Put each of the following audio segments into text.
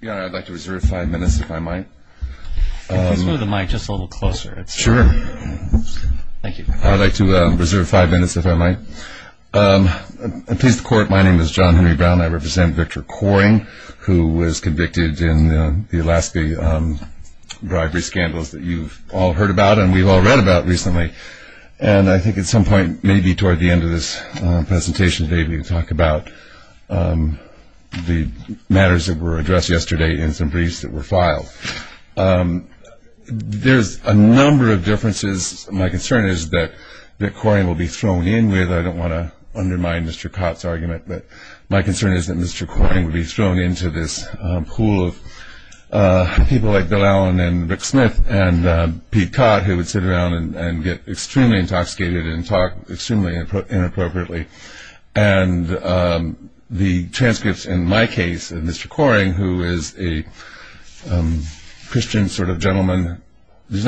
Yeah, I'd like to reserve five minutes, if I might. If you could move the mic just a little closer. Sure. Thank you. I'd like to reserve five minutes, if I might. At peace of the court, my name is John Henry Brown. I represent Victor Kohring, who was convicted in the Alaska bribery scandals that you've all heard about and we've all read about recently. And I think at some point, maybe toward the end of this presentation today, we can talk about the matters that were addressed yesterday and some briefs that were filed. There's a number of differences. My concern is that Victor Kohring will be thrown in with, I don't want to undermine Mr. Cott's argument, but my concern is that Mr. Kohring will be thrown into this pool of people like Bill Allen and Rick Smith and Pete Cott, who would sit around and get extremely intoxicated and talk extremely inappropriately. And the transcripts in my case of Mr. Kohring, who is a Christian sort of gentleman, he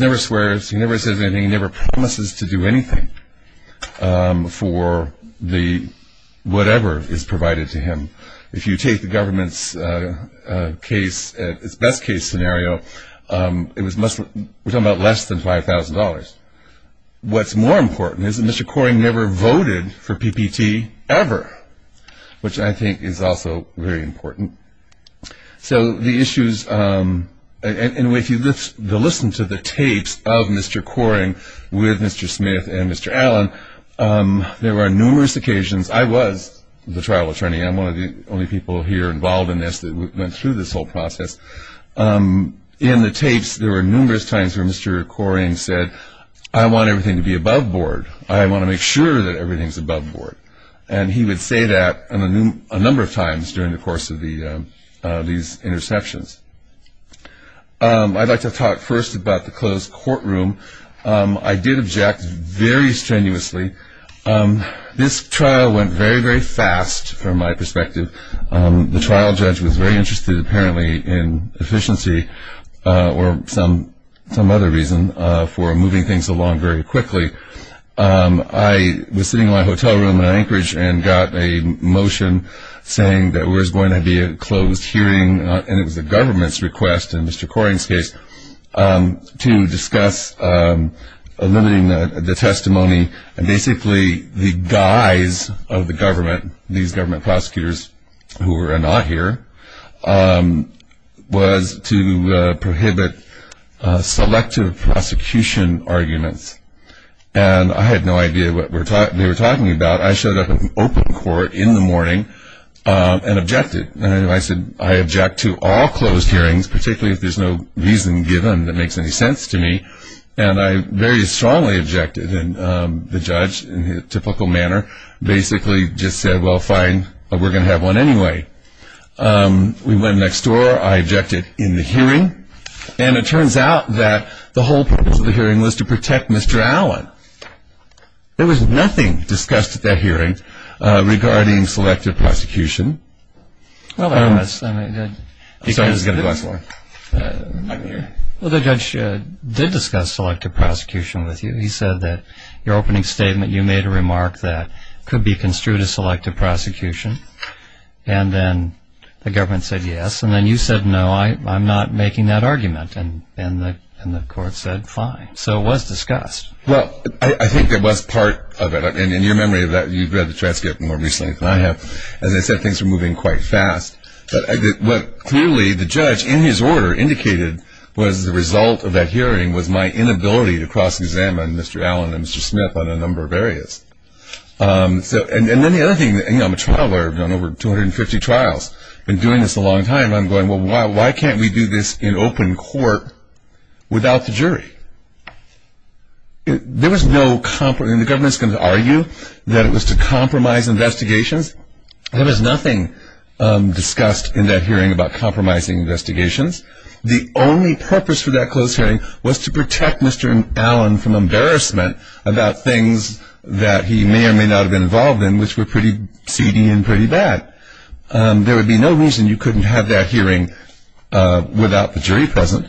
never swears, he never says anything, he never promises to do anything for whatever is provided to him. If you take the government's case, its best case scenario, we're talking about less than $5,000. What's more important is that Mr. Kohring never voted for PPT ever, which I think is also very important. So the issues, and if you listen to the tapes of Mr. Kohring with Mr. Smith and Mr. Allen, there were numerous occasions, I was the trial attorney, I'm one of the only people here involved in this that went through this whole process. In the tapes, there were numerous times where Mr. Kohring said, I want everything to be above board. I want to make sure that everything is above board. And he would say that a number of times during the course of these interceptions. I'd like to talk first about the closed courtroom. I did object very strenuously. This trial went very, very fast from my perspective. The trial judge was very interested apparently in efficiency or some other reason for moving things along very quickly. I was sitting in my hotel room in Anchorage and got a motion saying that there was going to be a closed hearing, and it was the government's request in Mr. Kohring's case, to discuss eliminating the testimony, and basically the guise of the government, these government prosecutors who were not here, was to prohibit selective prosecution arguments. And I had no idea what they were talking about. I showed up in open court in the morning and objected. I said I object to all closed hearings, particularly if there's no reason given that makes any sense to me. And I very strongly objected. And the judge, in his typical manner, basically just said, well, fine, we're going to have one anyway. We went next door. I objected in the hearing. And it turns out that the whole purpose of the hearing was to protect Mr. Allen. There was nothing discussed at that hearing regarding selective prosecution. Well, there was. I'm sorry, this is going to go on so long. I'm here. Well, the judge did discuss selective prosecution with you. He said that your opening statement, you made a remark that could be construed as selective prosecution. And then the government said yes. And then you said, no, I'm not making that argument. And the court said, fine. So it was discussed. Well, I think it was part of it. In your memory, you've read the transcript more recently than I have. As I said, things were moving quite fast. But what clearly the judge, in his order, indicated was the result of that hearing was my inability to cross-examine Mr. Allen and Mr. Smith on a number of areas. And then the other thing, you know, I'm a trial lawyer. I've done over 250 trials. Been doing this a long time. And I'm going, well, why can't we do this in open court without the jury? There was no compromise. The government is going to argue that it was to compromise investigations. There was nothing discussed in that hearing about compromising investigations. The only purpose for that closed hearing was to protect Mr. Allen from embarrassment about things that he may or may not have been involved in, which were pretty seedy and pretty bad. There would be no reason you couldn't have that hearing without the jury present.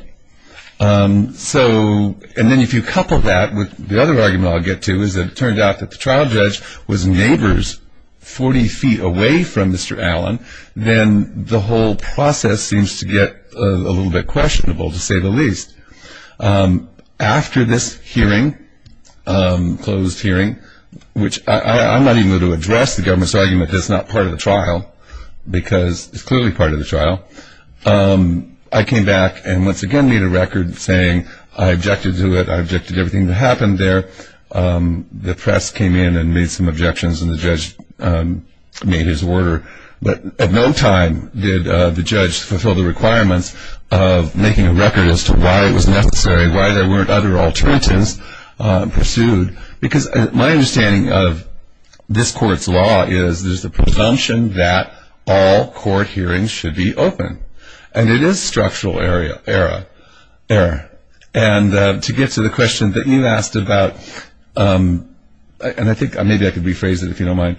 And then if you couple that with the other argument I'll get to is it turned out that the trial judge was neighbors 40 feet away from Mr. Allen, then the whole process seems to get a little bit questionable, to say the least. After this hearing, closed hearing, which I'm not even going to address the government's argument that it's not part of the trial because it's clearly part of the trial. I came back and once again made a record saying I objected to it. I objected to everything that happened there. The press came in and made some objections, and the judge made his order. But at no time did the judge fulfill the requirements of making a record as to why it was necessary, why there weren't other alternatives pursued. Because my understanding of this court's law is there's a presumption that all court hearings should be open, and it is structural error. And to get to the question that you asked about, and I think maybe I could rephrase it if you don't mind,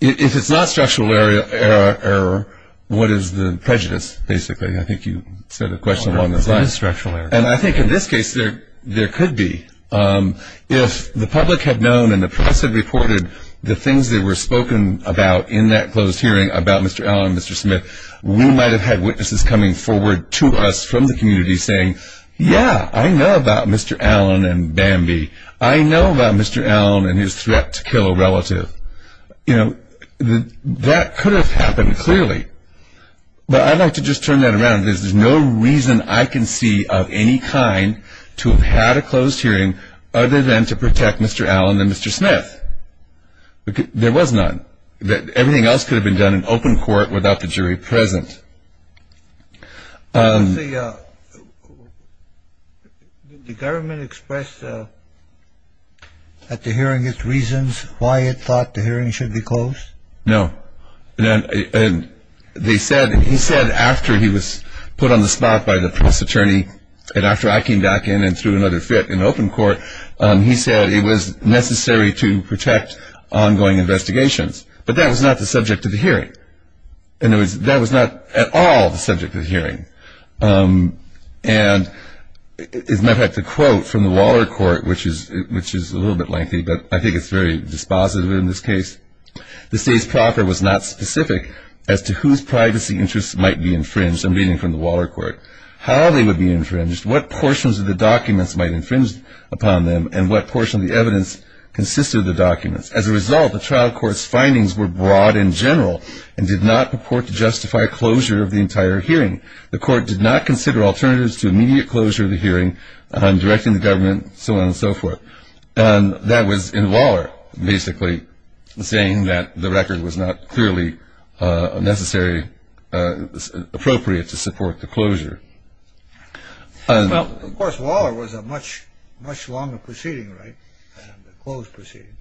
if it's not structural error, what is the prejudice, basically? I think you said a question along those lines. It is structural error. And I think in this case there could be. If the public had known and the press had reported the things that were spoken about in that closed hearing about Mr. Allen and Mr. Smith, we might have had witnesses coming forward to us from the community saying, yeah, I know about Mr. Allen and Bambi. I know about Mr. Allen and his threat to kill a relative. You know, that could have happened clearly. But I'd like to just turn that around. There's no reason I can see of any kind to have had a closed hearing other than to protect Mr. Allen and Mr. Smith. There was none. Everything else could have been done in open court without the jury present. Did the government express at the hearing its reasons why it thought the hearing should be closed? No. And they said, he said after he was put on the spot by the press attorney and after I came back in and threw another fit in open court, he said it was necessary to protect ongoing investigations. But that was not the subject of the hearing. That was not at all the subject of the hearing. And as a matter of fact, the quote from the Waller Court, which is a little bit lengthy, but I think it's very dispositive in this case, the states proper was not specific as to whose privacy interests might be infringed. I'm reading from the Waller Court. How they would be infringed, what portions of the documents might infringe upon them, and what portion of the evidence consisted of the documents. As a result, the trial court's findings were broad in general and did not purport to justify closure of the entire hearing. The court did not consider alternatives to immediate closure of the hearing, directing the government, so on and so forth. And that was in Waller, basically, saying that the record was not clearly necessary, appropriate to support the closure. Well, of course, Waller was a much longer proceeding, right? A closed proceeding.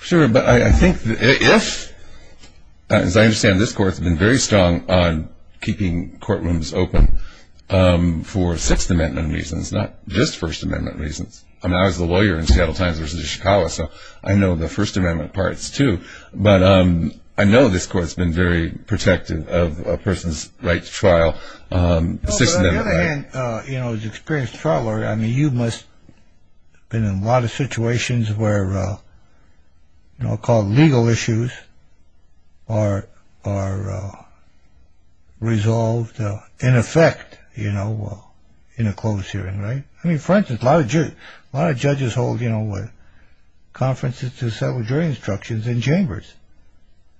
Sure, but I think that if, as I understand, this court has been very strong on keeping courtrooms open for Sixth Amendment reasons, not just First Amendment reasons. I mean, I was a lawyer in Seattle Times versus Chicago, so I know the First Amendment parts, too. But I know this court's been very protective of a person's right to trial. On the other hand, you know, as an experienced trial lawyer, I mean, you must have been in a lot of situations where, you know, I mean, for instance, a lot of judges hold, you know, conferences to settle jury instructions in chambers.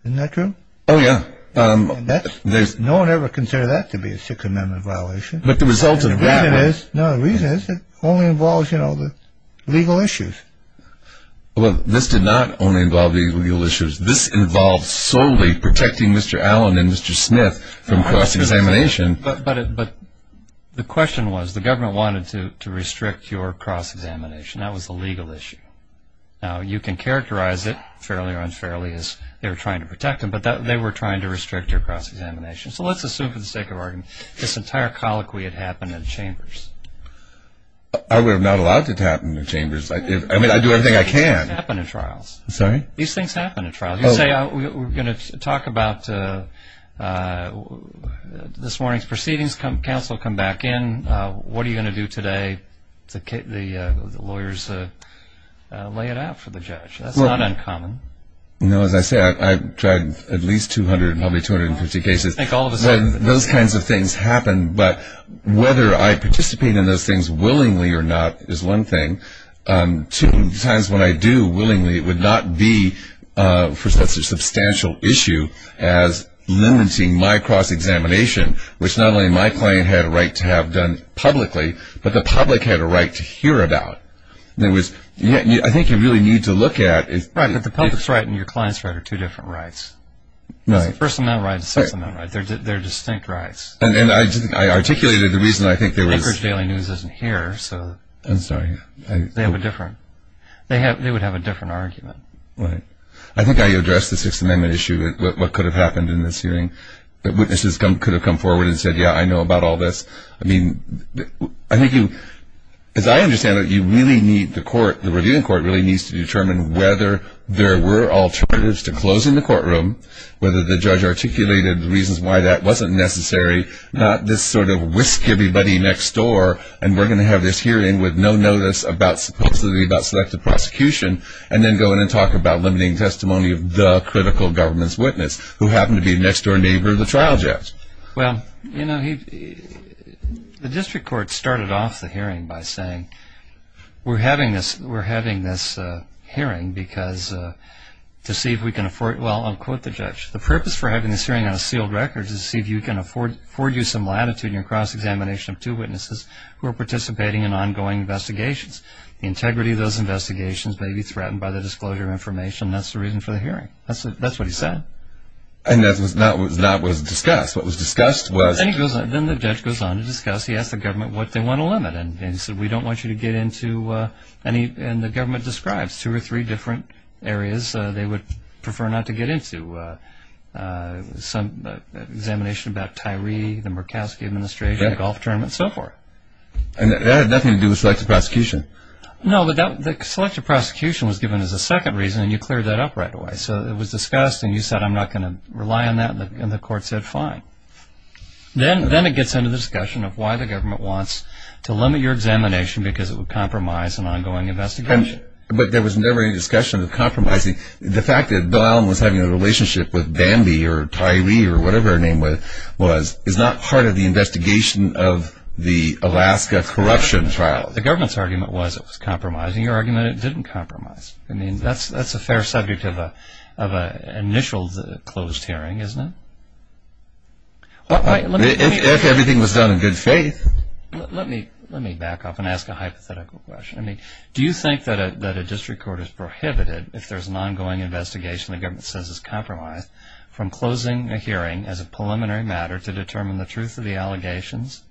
Isn't that true? Oh, yeah. No one ever considered that to be a Sixth Amendment violation. But the result of that was... No, the reason is it only involves, you know, the legal issues. Well, this did not only involve the legal issues. This involved solely protecting Mr. Allen and Mr. Smith from cross-examination. But the question was the government wanted to restrict your cross-examination. That was the legal issue. Now, you can characterize it fairly or unfairly as they were trying to protect him, but they were trying to restrict your cross-examination. So let's assume for the sake of argument this entire colloquy had happened in chambers. I would have not allowed it to happen in chambers. I mean, I do everything I can. These things happen in trials. Sorry? These things happen in trials. You say we're going to talk about this morning's proceedings. Counsel will come back in. What are you going to do today? The lawyers lay it out for the judge. That's not uncommon. You know, as I say, I've tried at least 200, probably 250 cases. Those kinds of things happen. But whether I participate in those things willingly or not is one thing. Sometimes when I do willingly, it would not be for such a substantial issue as limiting my cross-examination, which not only my client had a right to have done publicly, but the public had a right to hear about. I think you really need to look at it. Right, but the public's right and your client's right are two different rights. It's a first-amount right and a second-amount right. They're distinct rights. And I articulated the reason I think there was. Anchorage Daily News isn't here, so. I'm sorry. They have a different. They would have a different argument. Right. I think I addressed the Sixth Amendment issue, what could have happened in this hearing. Witnesses could have come forward and said, yeah, I know about all this. I mean, I think you, as I understand it, you really need the court, the reviewing court really needs to determine whether there were alternatives to closing the courtroom, whether the judge articulated the reasons why that wasn't necessary, not this sort of whisk everybody next door and we're going to have this hearing with no notice about supposed to be about selective prosecution and then go in and talk about limiting testimony of the critical government's witness who happened to be a next-door neighbor of the trial judge. Well, you know, the district court started off the hearing by saying, we're having this hearing because to see if we can afford it. Well, I'll quote the judge, the purpose for having this hearing on a sealed record is to see if you can afford you some latitude in your cross-examination of two witnesses who are participating in ongoing investigations. The integrity of those investigations may be threatened by the disclosure of information, and that's the reason for the hearing. That's what he said. And that was discussed. What was discussed was? Then the judge goes on to discuss. He asked the government what they want to limit, and he said, we don't want you to get into any, and the government describes two or three different areas they would prefer not to get into. Examination about Tyree, the Murkowski administration, the golf tournament, and so forth. And that had nothing to do with selective prosecution. No, but the selective prosecution was given as a second reason, and you cleared that up right away. So it was discussed, and you said, I'm not going to rely on that, and the court said, fine. Then it gets into the discussion of why the government wants to limit your examination because it would compromise an ongoing investigation. But there was never any discussion of compromising. The fact that Bill Allen was having a relationship with Bambi or Tyree or whatever her name was is not part of the investigation of the Alaska corruption trial. The government's argument was it was compromising. Your argument is it didn't compromise. I mean, that's a fair subject of an initial closed hearing, isn't it? If everything was done in good faith. Let me back up and ask a hypothetical question. Do you think that a district court is prohibited, if there's an ongoing investigation the government says is compromised, from closing a hearing as a preliminary matter to determine the truth of the allegations?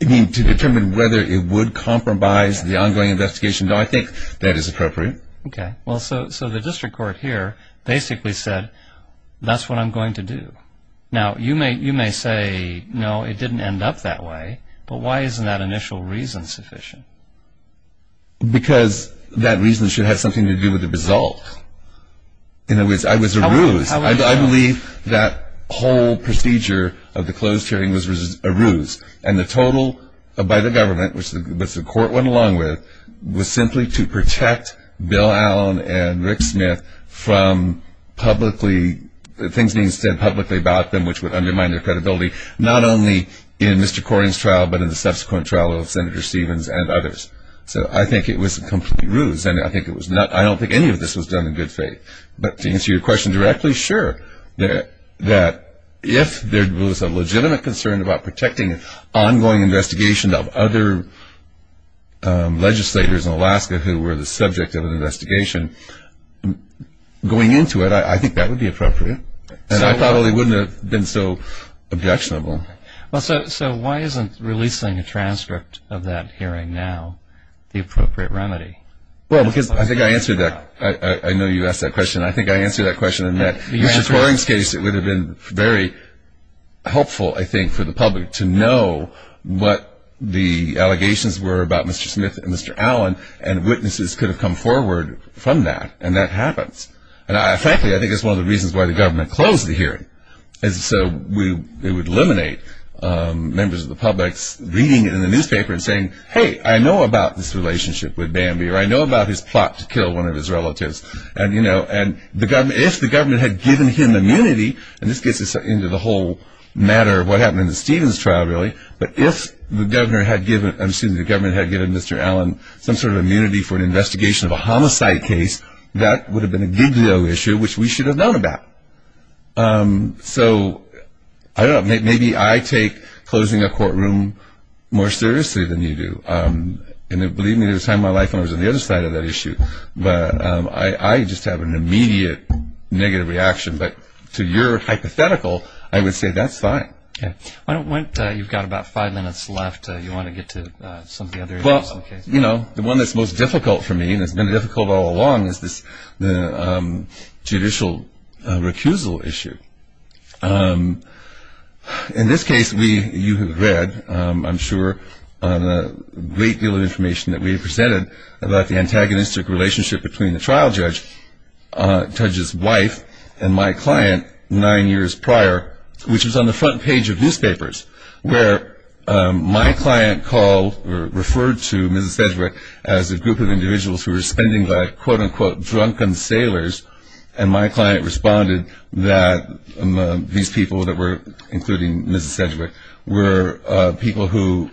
You mean to determine whether it would compromise the ongoing investigation? No, I think that is appropriate. Okay. Well, so the district court here basically said, that's what I'm going to do. Now, you may say, no, it didn't end up that way. But why isn't that initial reason sufficient? Because that reason should have something to do with the result. In other words, I was a ruse. I believe that whole procedure of the closed hearing was a ruse. And the total by the government, which the court went along with, was simply to protect Bill Allen and Rick Smith from things being said publicly about them, which would undermine their credibility. Not only in Mr. Corian's trial, but in the subsequent trial of Senator Stevens and others. So I think it was a complete ruse. And I don't think any of this was done in good faith. But to answer your question directly, sure, that if there was a legitimate concern about protecting ongoing investigation of other legislators in Alaska who were the subject of an investigation, going into it, I think that would be appropriate. And I probably wouldn't have been so objectionable. So why isn't releasing a transcript of that hearing now the appropriate remedy? Well, because I think I answered that. I know you asked that question. I think I answered that question in that in Mr. Corian's case it would have been very helpful, I think, for the public to know what the allegations were about Mr. Smith and Mr. Allen. And witnesses could have come forward from that. And that happens. And frankly, I think that's one of the reasons why the government closed the hearing. So it would eliminate members of the public reading it in the newspaper and saying, hey, I know about this relationship with Bambi, or I know about his plot to kill one of his relatives. And if the government had given him immunity, and this gets into the whole matter of what happened in the Stevens trial, really, but if the government had given Mr. Allen some sort of immunity for an investigation of a homicide case, that would have been a gigolo issue, which we should have known about. So I don't know. Maybe I take closing a courtroom more seriously than you do. And believe me, there was a time in my life when I was on the other side of that issue. But I just have an immediate negative reaction. But to your hypothetical, I would say that's fine. Okay. You've got about five minutes left. Do you want to get to some of the other issues? Well, you know, the one that's most difficult for me and has been difficult all along is the judicial recusal issue. In this case, you have read, I'm sure, a great deal of information that we have presented about the antagonistic relationship between the trial judge's wife and my client nine years prior, which was on the front page of newspapers, where my client called or referred to Mrs. Sedgwick as a group of individuals who were spending like, quote, unquote, drunken sailors. And my client responded that these people that were, including Mrs. Sedgwick, were people who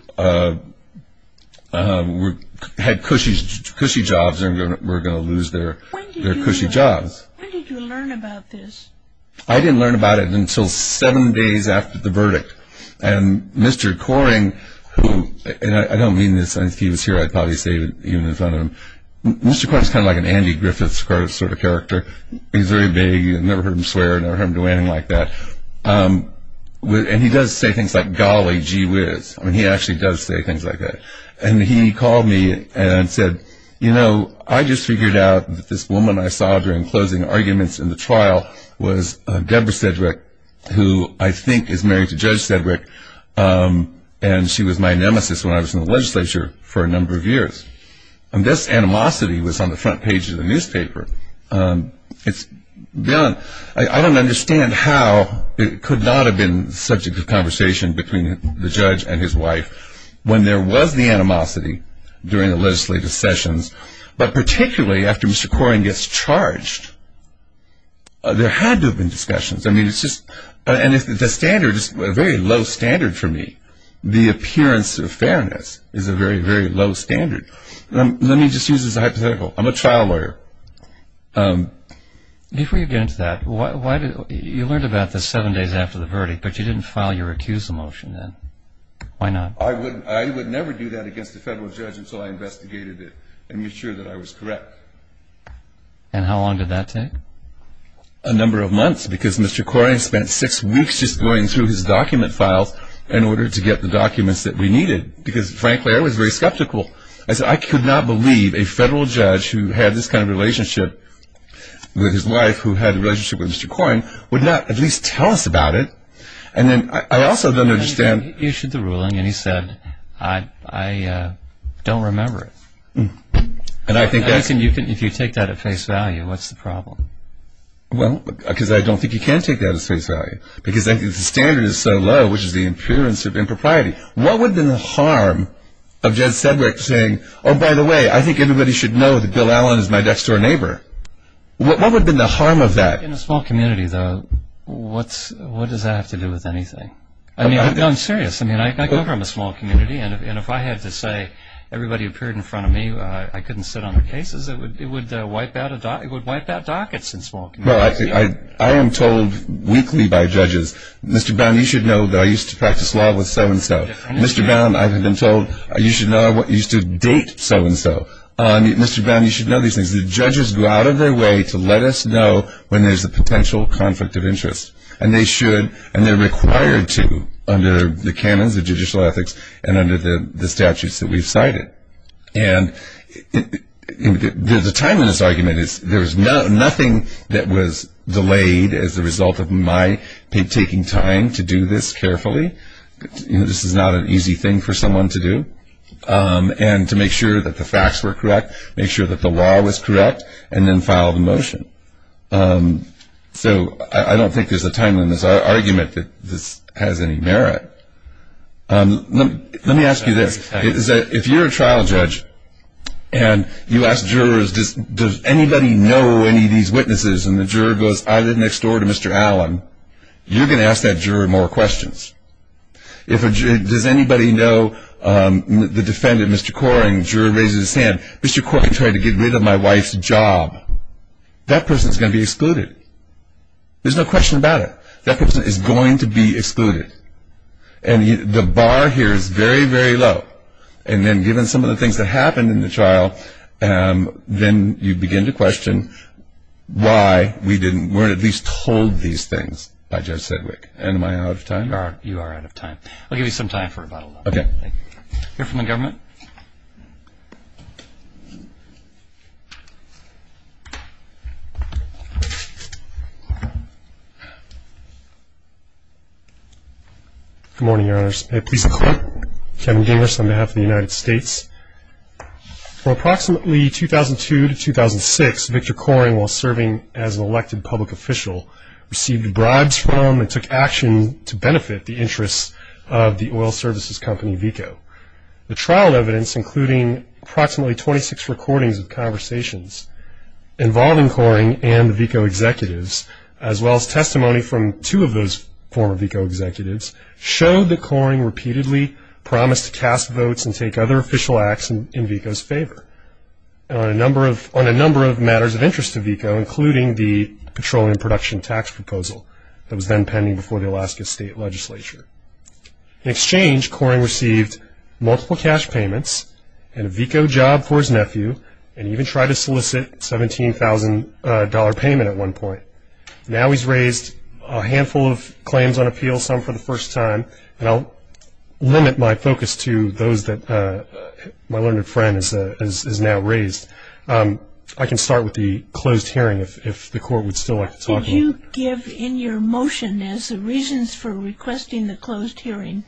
had cushy jobs and were going to lose their cushy jobs. When did you learn about this? I didn't learn about it until seven days after the verdict. And Mr. Coring, who – and I don't mean this. If he was here, I'd probably say it even in front of him. Mr. Coring is kind of like an Andy Griffith sort of character. He's very vague. You've never heard him swear. You've never heard him do anything like that. And he does say things like, golly, gee whiz. I mean, he actually does say things like that. And he called me and said, you know, I just figured out that this woman I saw during closing arguments in the trial was Deborah Sedgwick, who I think is married to Judge Sedgwick, and she was my nemesis when I was in the legislature for a number of years. And this animosity was on the front page of the newspaper. It's beyond – I don't understand how it could not have been the subject of conversation between the judge and his wife. When there was the animosity during the legislative sessions, but particularly after Mr. Coring gets charged, there had to have been discussions. I mean, it's just – and the standard is a very low standard for me. The appearance of fairness is a very, very low standard. Let me just use this as a hypothetical. I'm a trial lawyer. Before you get into that, why did – you learned about this seven days after the verdict, but you didn't file your recusal motion then. Why not? I would never do that against a federal judge until I investigated it and made sure that I was correct. And how long did that take? A number of months because Mr. Coring spent six weeks just going through his document files in order to get the documents that we needed because, frankly, I was very skeptical. I said I could not believe a federal judge who had this kind of relationship with his wife, who had a relationship with Mr. Coring, would not at least tell us about it. And then I also don't understand – He issued the ruling and he said, I don't remember it. And I think that's – If you take that at face value, what's the problem? Well, because I don't think you can take that at face value because the standard is so low, which is the appearance of impropriety. What would have been the harm of Jed Sedgwick saying, oh, by the way, I think everybody should know that Bill Allen is my next-door neighbor? What would have been the harm of that? In a small community, though, what does that have to do with anything? I mean, I'm serious. I mean, I come from a small community, and if I had to say everybody appeared in front of me, I couldn't sit on the cases, it would wipe out dockets in small communities. Well, I am told weekly by judges, Mr. Brown, you should know that I used to practice law with so-and-so. Mr. Brown, I've been told you should know I used to date so-and-so. Mr. Brown, you should know these things. The judges go out of their way to let us know when there's a potential conflict of interest, and they should and they're required to under the canons of judicial ethics and under the statutes that we've cited. And the timeless argument is there's nothing that was delayed as a result of my taking time to do this carefully. This is not an easy thing for someone to do. And to make sure that the facts were correct, make sure that the law was correct, and then file the motion. So I don't think there's a timeliness argument that this has any merit. Let me ask you this. If you're a trial judge and you ask jurors, does anybody know any of these witnesses, and the juror goes either next door to Mr. Allen, you're going to ask that juror more questions. Does anybody know the defendant, Mr. Coring? And the juror raises his hand. Mr. Coring tried to get rid of my wife's job. That person's going to be excluded. There's no question about it. That person is going to be excluded. And the bar here is very, very low. And then given some of the things that happened in the trial, then you begin to question why we weren't at least told these things by Judge Sedgwick. And am I out of time? You are out of time. I'll give you some time for about a minute. Okay. We'll hear from the government. Good morning, Your Honors. Please accept Kevin Gingras on behalf of the United States. For approximately 2002 to 2006, Victor Coring, while serving as an elected public official, received bribes from and took action to benefit the interests of the oil services company, VECO. The trial evidence, including approximately 26 recordings of conversations involving Coring and the VECO executives, as well as testimony from two of those former VECO executives, showed that Coring repeatedly promised to cast votes and take other official acts in VECO's favor. On a number of matters of interest to VECO, including the petroleum production tax proposal that was then pending before the Alaska State Legislature. In exchange, Coring received multiple cash payments and a VECO job for his nephew and even tried to solicit a $17,000 payment at one point. Now he's raised a handful of claims on appeal, some for the first time. And I'll limit my focus to those that my learned friend has now raised. I can start with the closed hearing if the Court would still like to talk about it. Could you give in your motion as the reasons for requesting the closed hearing?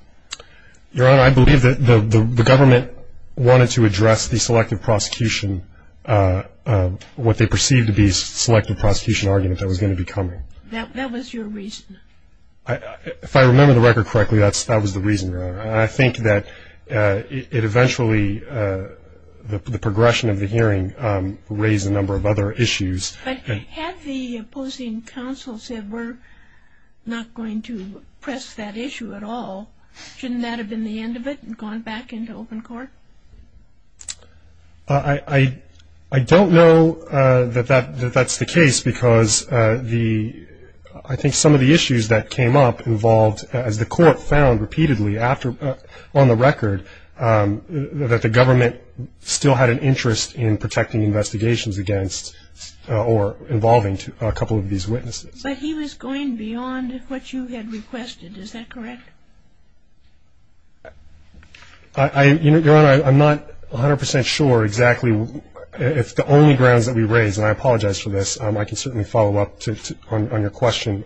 Your Honor, I believe that the government wanted to address the selective prosecution, what they perceived to be selective prosecution argument that was going to be coming. That was your reason? If I remember the record correctly, that was the reason, Your Honor. I think that it eventually, the progression of the hearing raised a number of other issues. But had the opposing counsel said we're not going to press that issue at all, shouldn't that have been the end of it and gone back into open court? I don't know that that's the case because I think some of the issues that came up involved, as the Court found repeatedly on the record, that the government still had an interest in protecting investigations against or involving a couple of these witnesses. But he was going beyond what you had requested, is that correct? Your Honor, I'm not 100% sure exactly if the only grounds that we raised, and I apologize for this, I can certainly follow up on your question,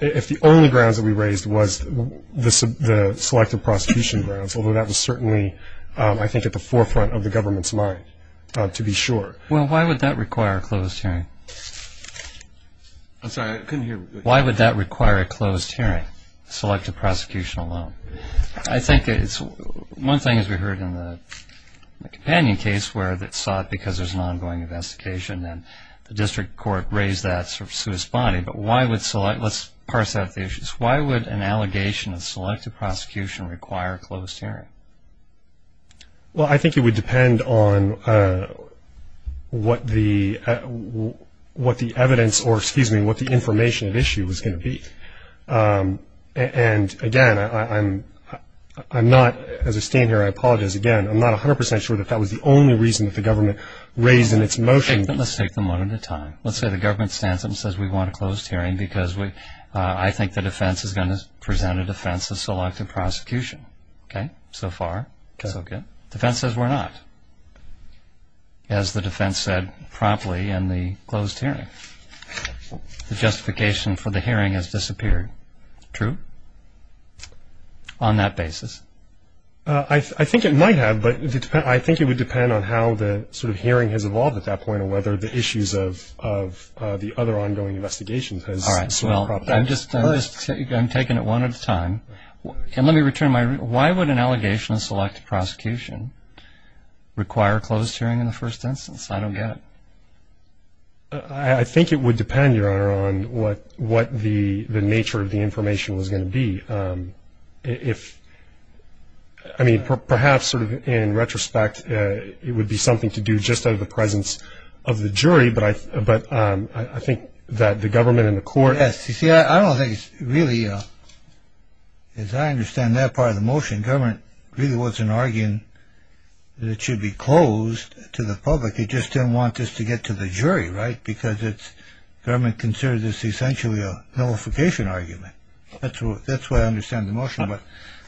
if the only grounds that we raised was the selective prosecution grounds, although that was certainly, I think, at the forefront of the government's mind, to be sure. Well, why would that require a closed hearing? I'm sorry, I couldn't hear. Why would that require a closed hearing, selective prosecution alone? I think it's one thing, as we heard in the companion case, where it's sought because there's an ongoing investigation, and the district court raised that to its body. But why would select, let's parse out the issues, why would an allegation of selective prosecution require a closed hearing? Well, I think it would depend on what the evidence, or excuse me, what the information at issue was going to be. And again, I'm not, as I stand here, I apologize again, I'm not 100% sure that that was the only reason that the government raised in its motion. Let's take them one at a time. Let's say the government stands up and says we want a closed hearing because I think the defense is going to present a defense of selective prosecution. Okay, so far, so good. The defense says we're not, as the defense said promptly in the closed hearing. The justification for the hearing has disappeared. True? On that basis? I think it might have, but I think it would depend on how the sort of hearing has evolved at that point or whether the issues of the other ongoing investigations has sort of propped up. All right, well, I'm taking it one at a time. And let me return my, why would an allegation of selective prosecution require a closed hearing in the first instance? I don't get it. I think it would depend, Your Honor, on what the nature of the information was going to be. If, I mean, perhaps sort of in retrospect, it would be something to do just out of the presence of the jury, but I think that the government and the court. Yes, you see, I don't think it's really, as I understand that part of the motion, the government really wasn't arguing that it should be closed to the public. It just didn't want this to get to the jury, right, because the government considers this essentially a nullification argument. That's the way I understand the motion. But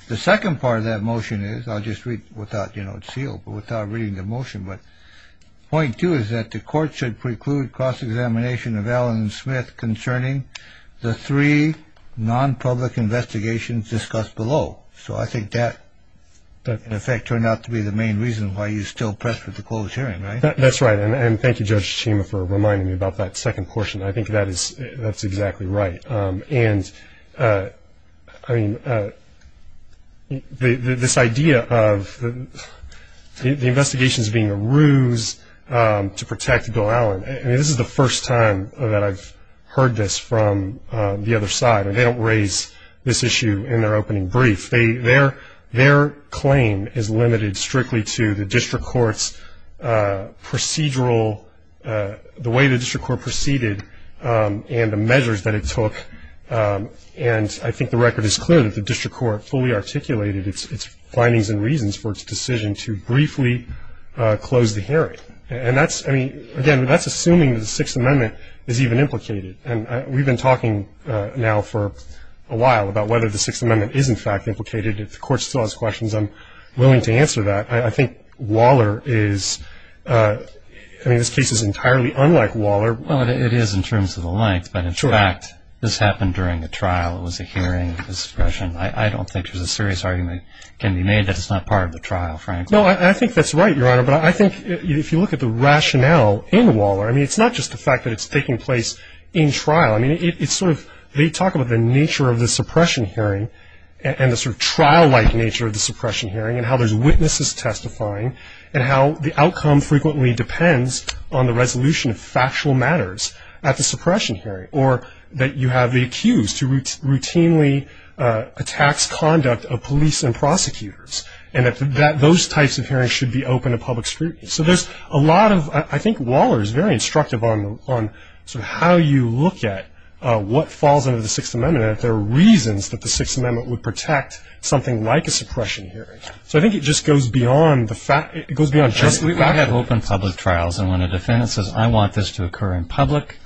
the second part of that motion is, I'll just read without, you know, it's sealed, but without reading the motion, but point two is that the court should preclude cross-examination of Allen and Smith concerning the three non-public investigations discussed below. So I think that, in effect, turned out to be the main reason why you're still pressed for the closed hearing, right? That's right, and thank you, Judge Schema, for reminding me about that second portion. I think that is, that's exactly right. And, I mean, this idea of the investigations being a ruse to protect Bill Allen, I mean, this is the first time that I've heard this from the other side, and they don't raise this issue in their opening brief. Their claim is limited strictly to the district court's procedural, the way the district court proceeded and the measures that it took. And I think the record is clear that the district court fully articulated its findings and reasons for its decision to briefly close the hearing. And that's, I mean, again, that's assuming the Sixth Amendment is even implicated. And we've been talking now for a while about whether the Sixth Amendment is, in fact, implicated. If the court still has questions, I'm willing to answer that. I think Waller is, I mean, this case is entirely unlike Waller. Well, it is in terms of the length. But, in fact, this happened during the trial. It was a hearing of discretion. I don't think there's a serious argument can be made that it's not part of the trial, frankly. No, I think that's right, Your Honor. But I think if you look at the rationale in Waller, I mean, it's not just the fact that it's taking place in trial. I mean, it's sort of, they talk about the nature of the suppression hearing and the sort of trial-like nature of the suppression hearing and how there's witnesses testifying and how the outcome frequently depends on the resolution of factual matters at the suppression hearing or that you have the accused who routinely attacks conduct of police and prosecutors and that those types of hearings should be open to public scrutiny. So there's a lot of, I think Waller is very instructive on sort of how you look at what falls under the Sixth Amendment and if there are reasons that the Sixth Amendment would protect something like a suppression hearing. So I think it just goes beyond the fact, it goes beyond just the fact. We have open public trials and when a defendant says, I want this to occur in public,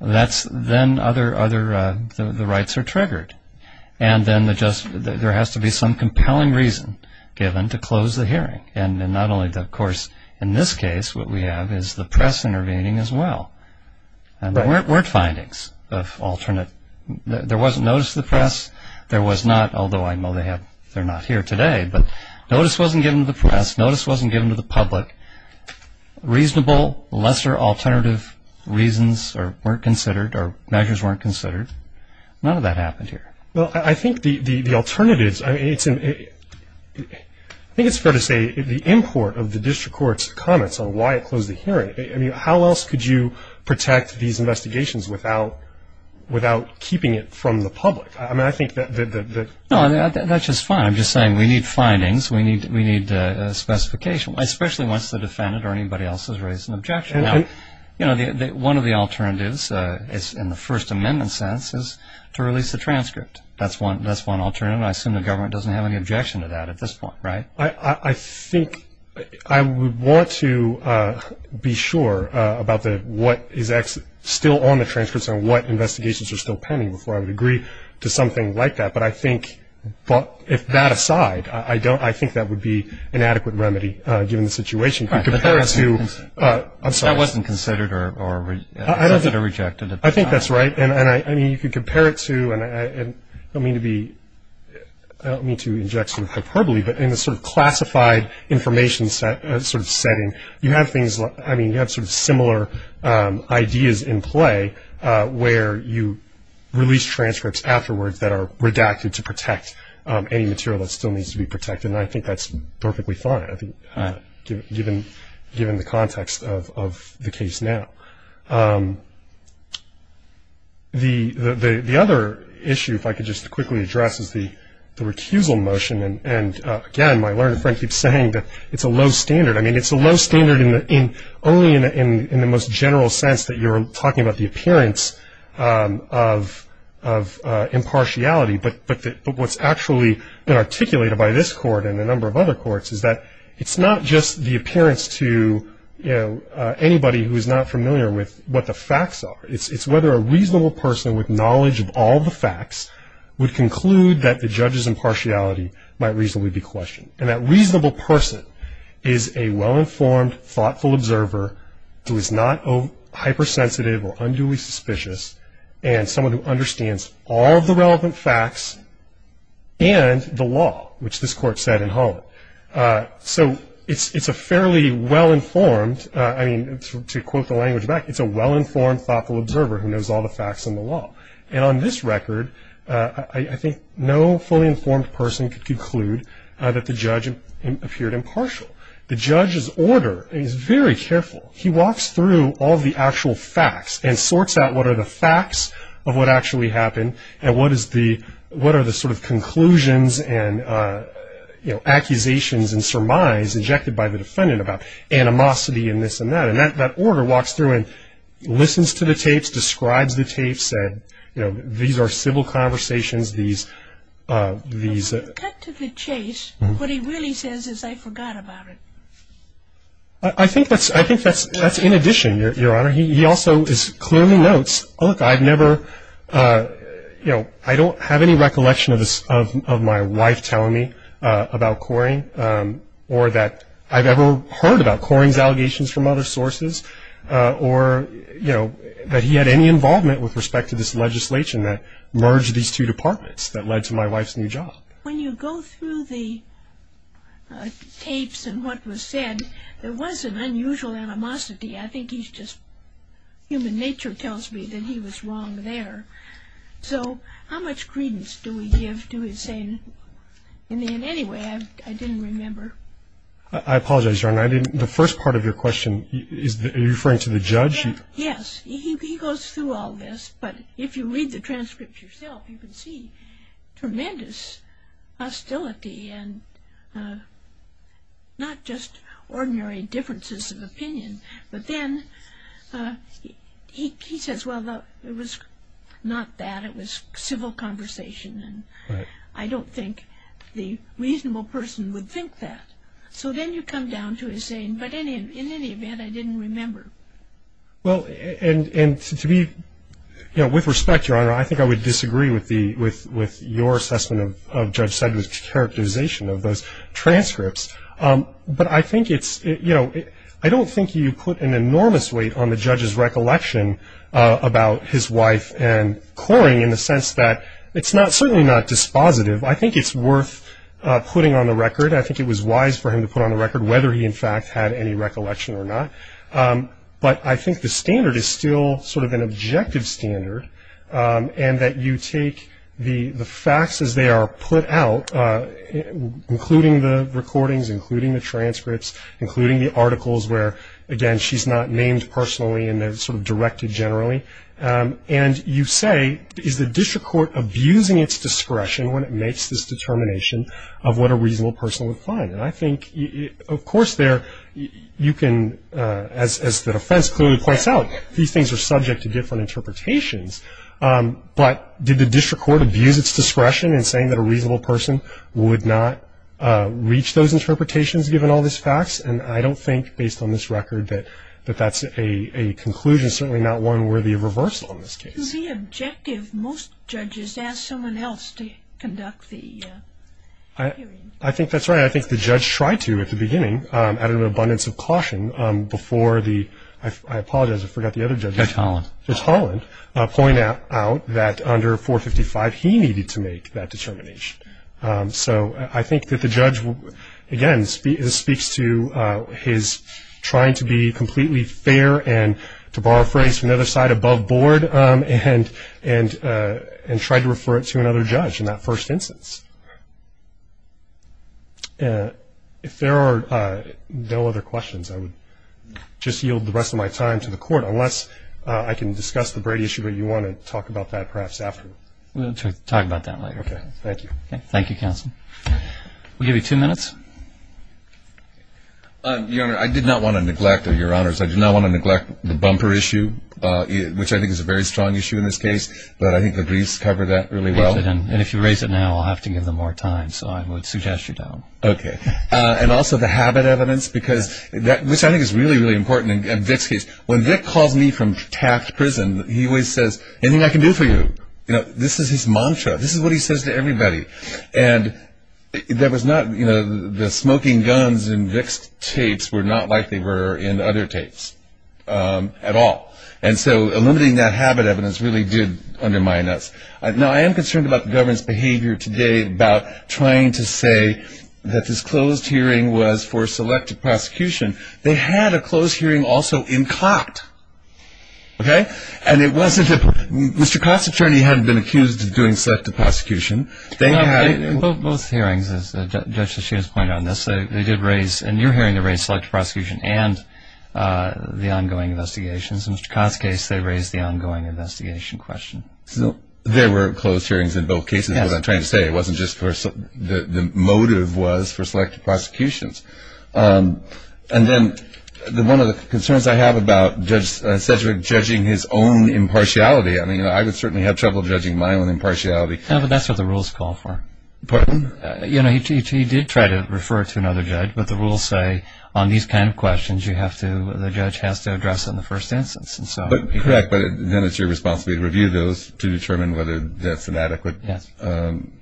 that's then other, the rights are triggered. And then there has to be some compelling reason given to close the hearing. And not only that, of course, in this case what we have is the press intervening as well. There weren't findings of alternate. There was notice to the press. There was not, although I know they're not here today, but notice wasn't given to the press. Notice wasn't given to the public. Reasonable, lesser alternative reasons weren't considered or measures weren't considered. None of that happened here. Well, I think the alternatives, I think it's fair to say the import of the district court's comments on why it closed the hearing, I mean, how else could you protect these investigations without keeping it from the public? I mean, I think that the... No, that's just fine. I'm just saying we need findings, we need specification, especially once the defendant or anybody else has raised an objection. Now, you know, one of the alternatives in the First Amendment sense is to release the transcript. That's one alternative. I assume the government doesn't have any objection to that at this point, right? I think I would want to be sure about what is still on the transcripts and what investigations are still pending before I would agree to something like that. But I think, if that aside, I don't... I think that would be an adequate remedy given the situation. If you compare it to... That wasn't considered or accepted or rejected at the time. I think that's right. And, I mean, you could compare it to, and I don't mean to be... I don't mean to inject some hyperbole, but in a sort of classified information sort of setting, you have things... I mean, you have sort of similar ideas in play where you release transcripts afterwards that are redacted to protect any material that still needs to be protected, and I think that's perfectly fine, I think, given the context of the case now. The other issue, if I could just quickly address, is the recusal motion. And, again, my learned friend keeps saying that it's a low standard. I mean, it's a low standard only in the most general sense that you're talking about the appearance of impartiality. But what's actually been articulated by this Court and a number of other courts is that it's not just the appearance to anybody who is not familiar with what the facts are. It's whether a reasonable person with knowledge of all the facts would conclude that the judge's impartiality might reasonably be questioned. And that reasonable person is a well-informed, thoughtful observer who is not hypersensitive or unduly suspicious and someone who understands all of the relevant facts and the law, which this Court said in Holland. So it's a fairly well-informed, I mean, to quote the language back, it's a well-informed, thoughtful observer who knows all the facts and the law. And on this record, I think no fully informed person could conclude that the judge appeared impartial. The judge's order is very careful. He walks through all the actual facts and sorts out what are the facts of what actually happened and what are the sort of conclusions and, you know, accusations and surmise injected by the defendant about animosity and this and that. And that order walks through and listens to the tapes, describes the tapes, and, you know, these are civil conversations. These are these. Cut to the chase. What he really says is, I forgot about it. I think that's in addition, Your Honor. He also clearly notes, look, I've never, you know, I don't have any recollection of my wife telling me about Coring or that I've ever heard about Coring's allegations from other sources or, you know, that he had any involvement with respect to this legislation that merged these two departments that led to my wife's new job. When you go through the tapes and what was said, there was an unusual animosity. I think he's just human nature tells me that he was wrong there. So how much credence do we give to his saying? In any way, I didn't remember. I apologize, Your Honor. The first part of your question, are you referring to the judge? Yes. He goes through all this. But if you read the transcript yourself, you can see tremendous hostility and not just ordinary differences of opinion. But then he says, well, it was not that. It was civil conversation. And I don't think the reasonable person would think that. So then you come down to his saying, but in any event, I didn't remember. Well, and to me, you know, with respect, Your Honor, I think I would disagree with your assessment of Judge Sedgwick's characterization of those transcripts. But I think it's, you know, I don't think you put an enormous weight on the judge's recollection about his wife and Coring in the sense that it's certainly not dispositive. I think it's worth putting on the record. I think it was wise for him to put on the record whether he, in fact, had any recollection or not. But I think the standard is still sort of an objective standard and that you take the facts as they are put out, including the recordings, including the transcripts, including the articles where, again, she's not named personally and they're sort of directed generally, and you say, is the district court abusing its discretion when it makes this determination of what a reasonable person would find? And I think, of course, there you can, as the defense clearly points out, these things are subject to different interpretations, but did the district court abuse its discretion in saying that a reasonable person would not reach those interpretations, given all these facts? And I don't think, based on this record, that that's a conclusion, certainly not one worthy of reversal in this case. The objective, most judges ask someone else to conduct the hearing. I think that's right. And I think the judge tried to at the beginning, added an abundance of caution before the, I apologize, I forgot the other judge. Judge Holland. Judge Holland pointed out that under 455, he needed to make that determination. So I think that the judge, again, speaks to his trying to be completely fair and to borrow a phrase from the other side above board and try to refer it to another judge in that first instance. If there are no other questions, I would just yield the rest of my time to the court, unless I can discuss the Brady issue, but you want to talk about that perhaps after. We'll talk about that later. Okay. Thank you. Thank you, counsel. We'll give you two minutes. Your Honor, I did not want to neglect, or Your Honors, I did not want to neglect the bumper issue, which I think is a very strong issue in this case. But I think the briefs cover that really well. And if you raise it now, I'll have to give them more time. So I would suggest you don't. Okay. And also the habit evidence, which I think is really, really important in Vic's case. When Vic calls me from Taft Prison, he always says, anything I can do for you. This is his mantra. This is what he says to everybody. And there was not, you know, the smoking guns in Vic's tapes were not like they were in other tapes at all. And so eliminating that habit evidence really did undermine us. Now, I am concerned about the government's behavior today about trying to say that this closed hearing was for selective prosecution. They had a closed hearing also in Cott. Okay. And it wasn't that Mr. Cott's attorney hadn't been accused of doing selective prosecution. Both hearings, as Judge Lasheeda has pointed out in this, they did raise, and you're hearing they raised selective prosecution and the ongoing investigations. In Mr. Cott's case, they raised the ongoing investigation question. So there were closed hearings in both cases. Yes. That's what I'm trying to say. It wasn't just the motive was for selective prosecutions. And then one of the concerns I have about Judge Sedgwick judging his own impartiality, I mean, I would certainly have trouble judging my own impartiality. No, but that's what the rules call for. Pardon? You know, he did try to refer it to another judge, but the rules say on these kind of questions, you have to, the judge has to address it in the first instance. Correct, but then it's your responsibility to review those to determine whether that's an adequate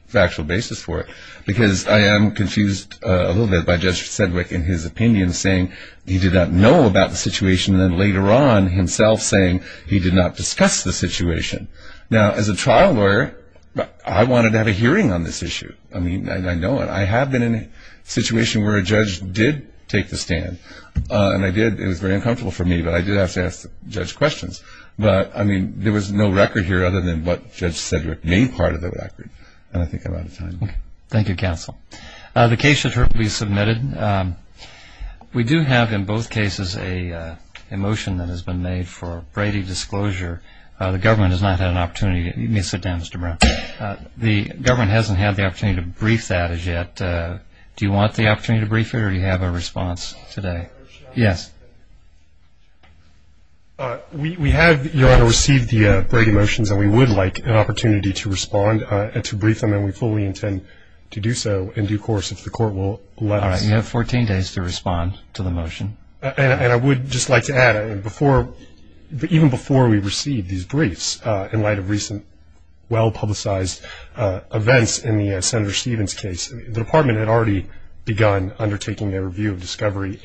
factual basis for it. Because I am confused a little bit by Judge Sedgwick in his opinion saying he did not know about the situation and then later on himself saying he did not discuss the situation. Now, as a trial lawyer, I wanted to have a hearing on this issue. I mean, I know it. I have been in a situation where a judge did take the stand, and I did. It was very uncomfortable for me, but I did have to ask the judge questions. But, I mean, there was no record here other than what Judge Sedgwick made part of the record, and I think I'm out of time. Okay. Thank you, Counsel. The case should be submitted. We do have in both cases a motion that has been made for Brady disclosure. The government has not had an opportunity. You may sit down, Mr. Brown. The government hasn't had the opportunity to brief that as yet. Do you want the opportunity to brief it, or do you have a response today? Yes. We have, Your Honor, received the Brady motions, and we would like an opportunity to respond and to brief them, and we fully intend to do so in due course if the Court will let us. All right. You have 14 days to respond to the motion. And I would just like to add, even before we received these briefs, in light of recent well-publicized events in the Senator Stevens case, the Department had already begun undertaking a review of discovery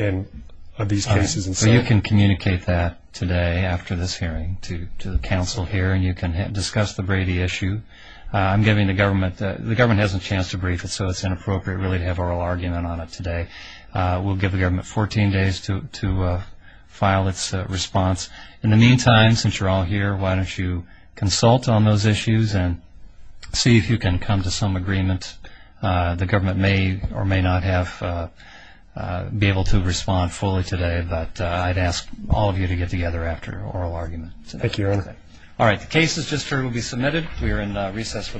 of these cases. All right. So you can communicate that today after this hearing to the Counsel here, and you can discuss the Brady issue. I'm giving the government the chance to brief it, so it's inappropriate, really, to have oral argument on it today. We'll give the government 14 days to file its response. In the meantime, since you're all here, why don't you consult on those issues and see if you can come to some agreement. The government may or may not be able to respond fully today, but I'd ask all of you to get together after oral argument. Thank you, Your Honor. All right. The case is just ready to be submitted. We are in recess for the morning.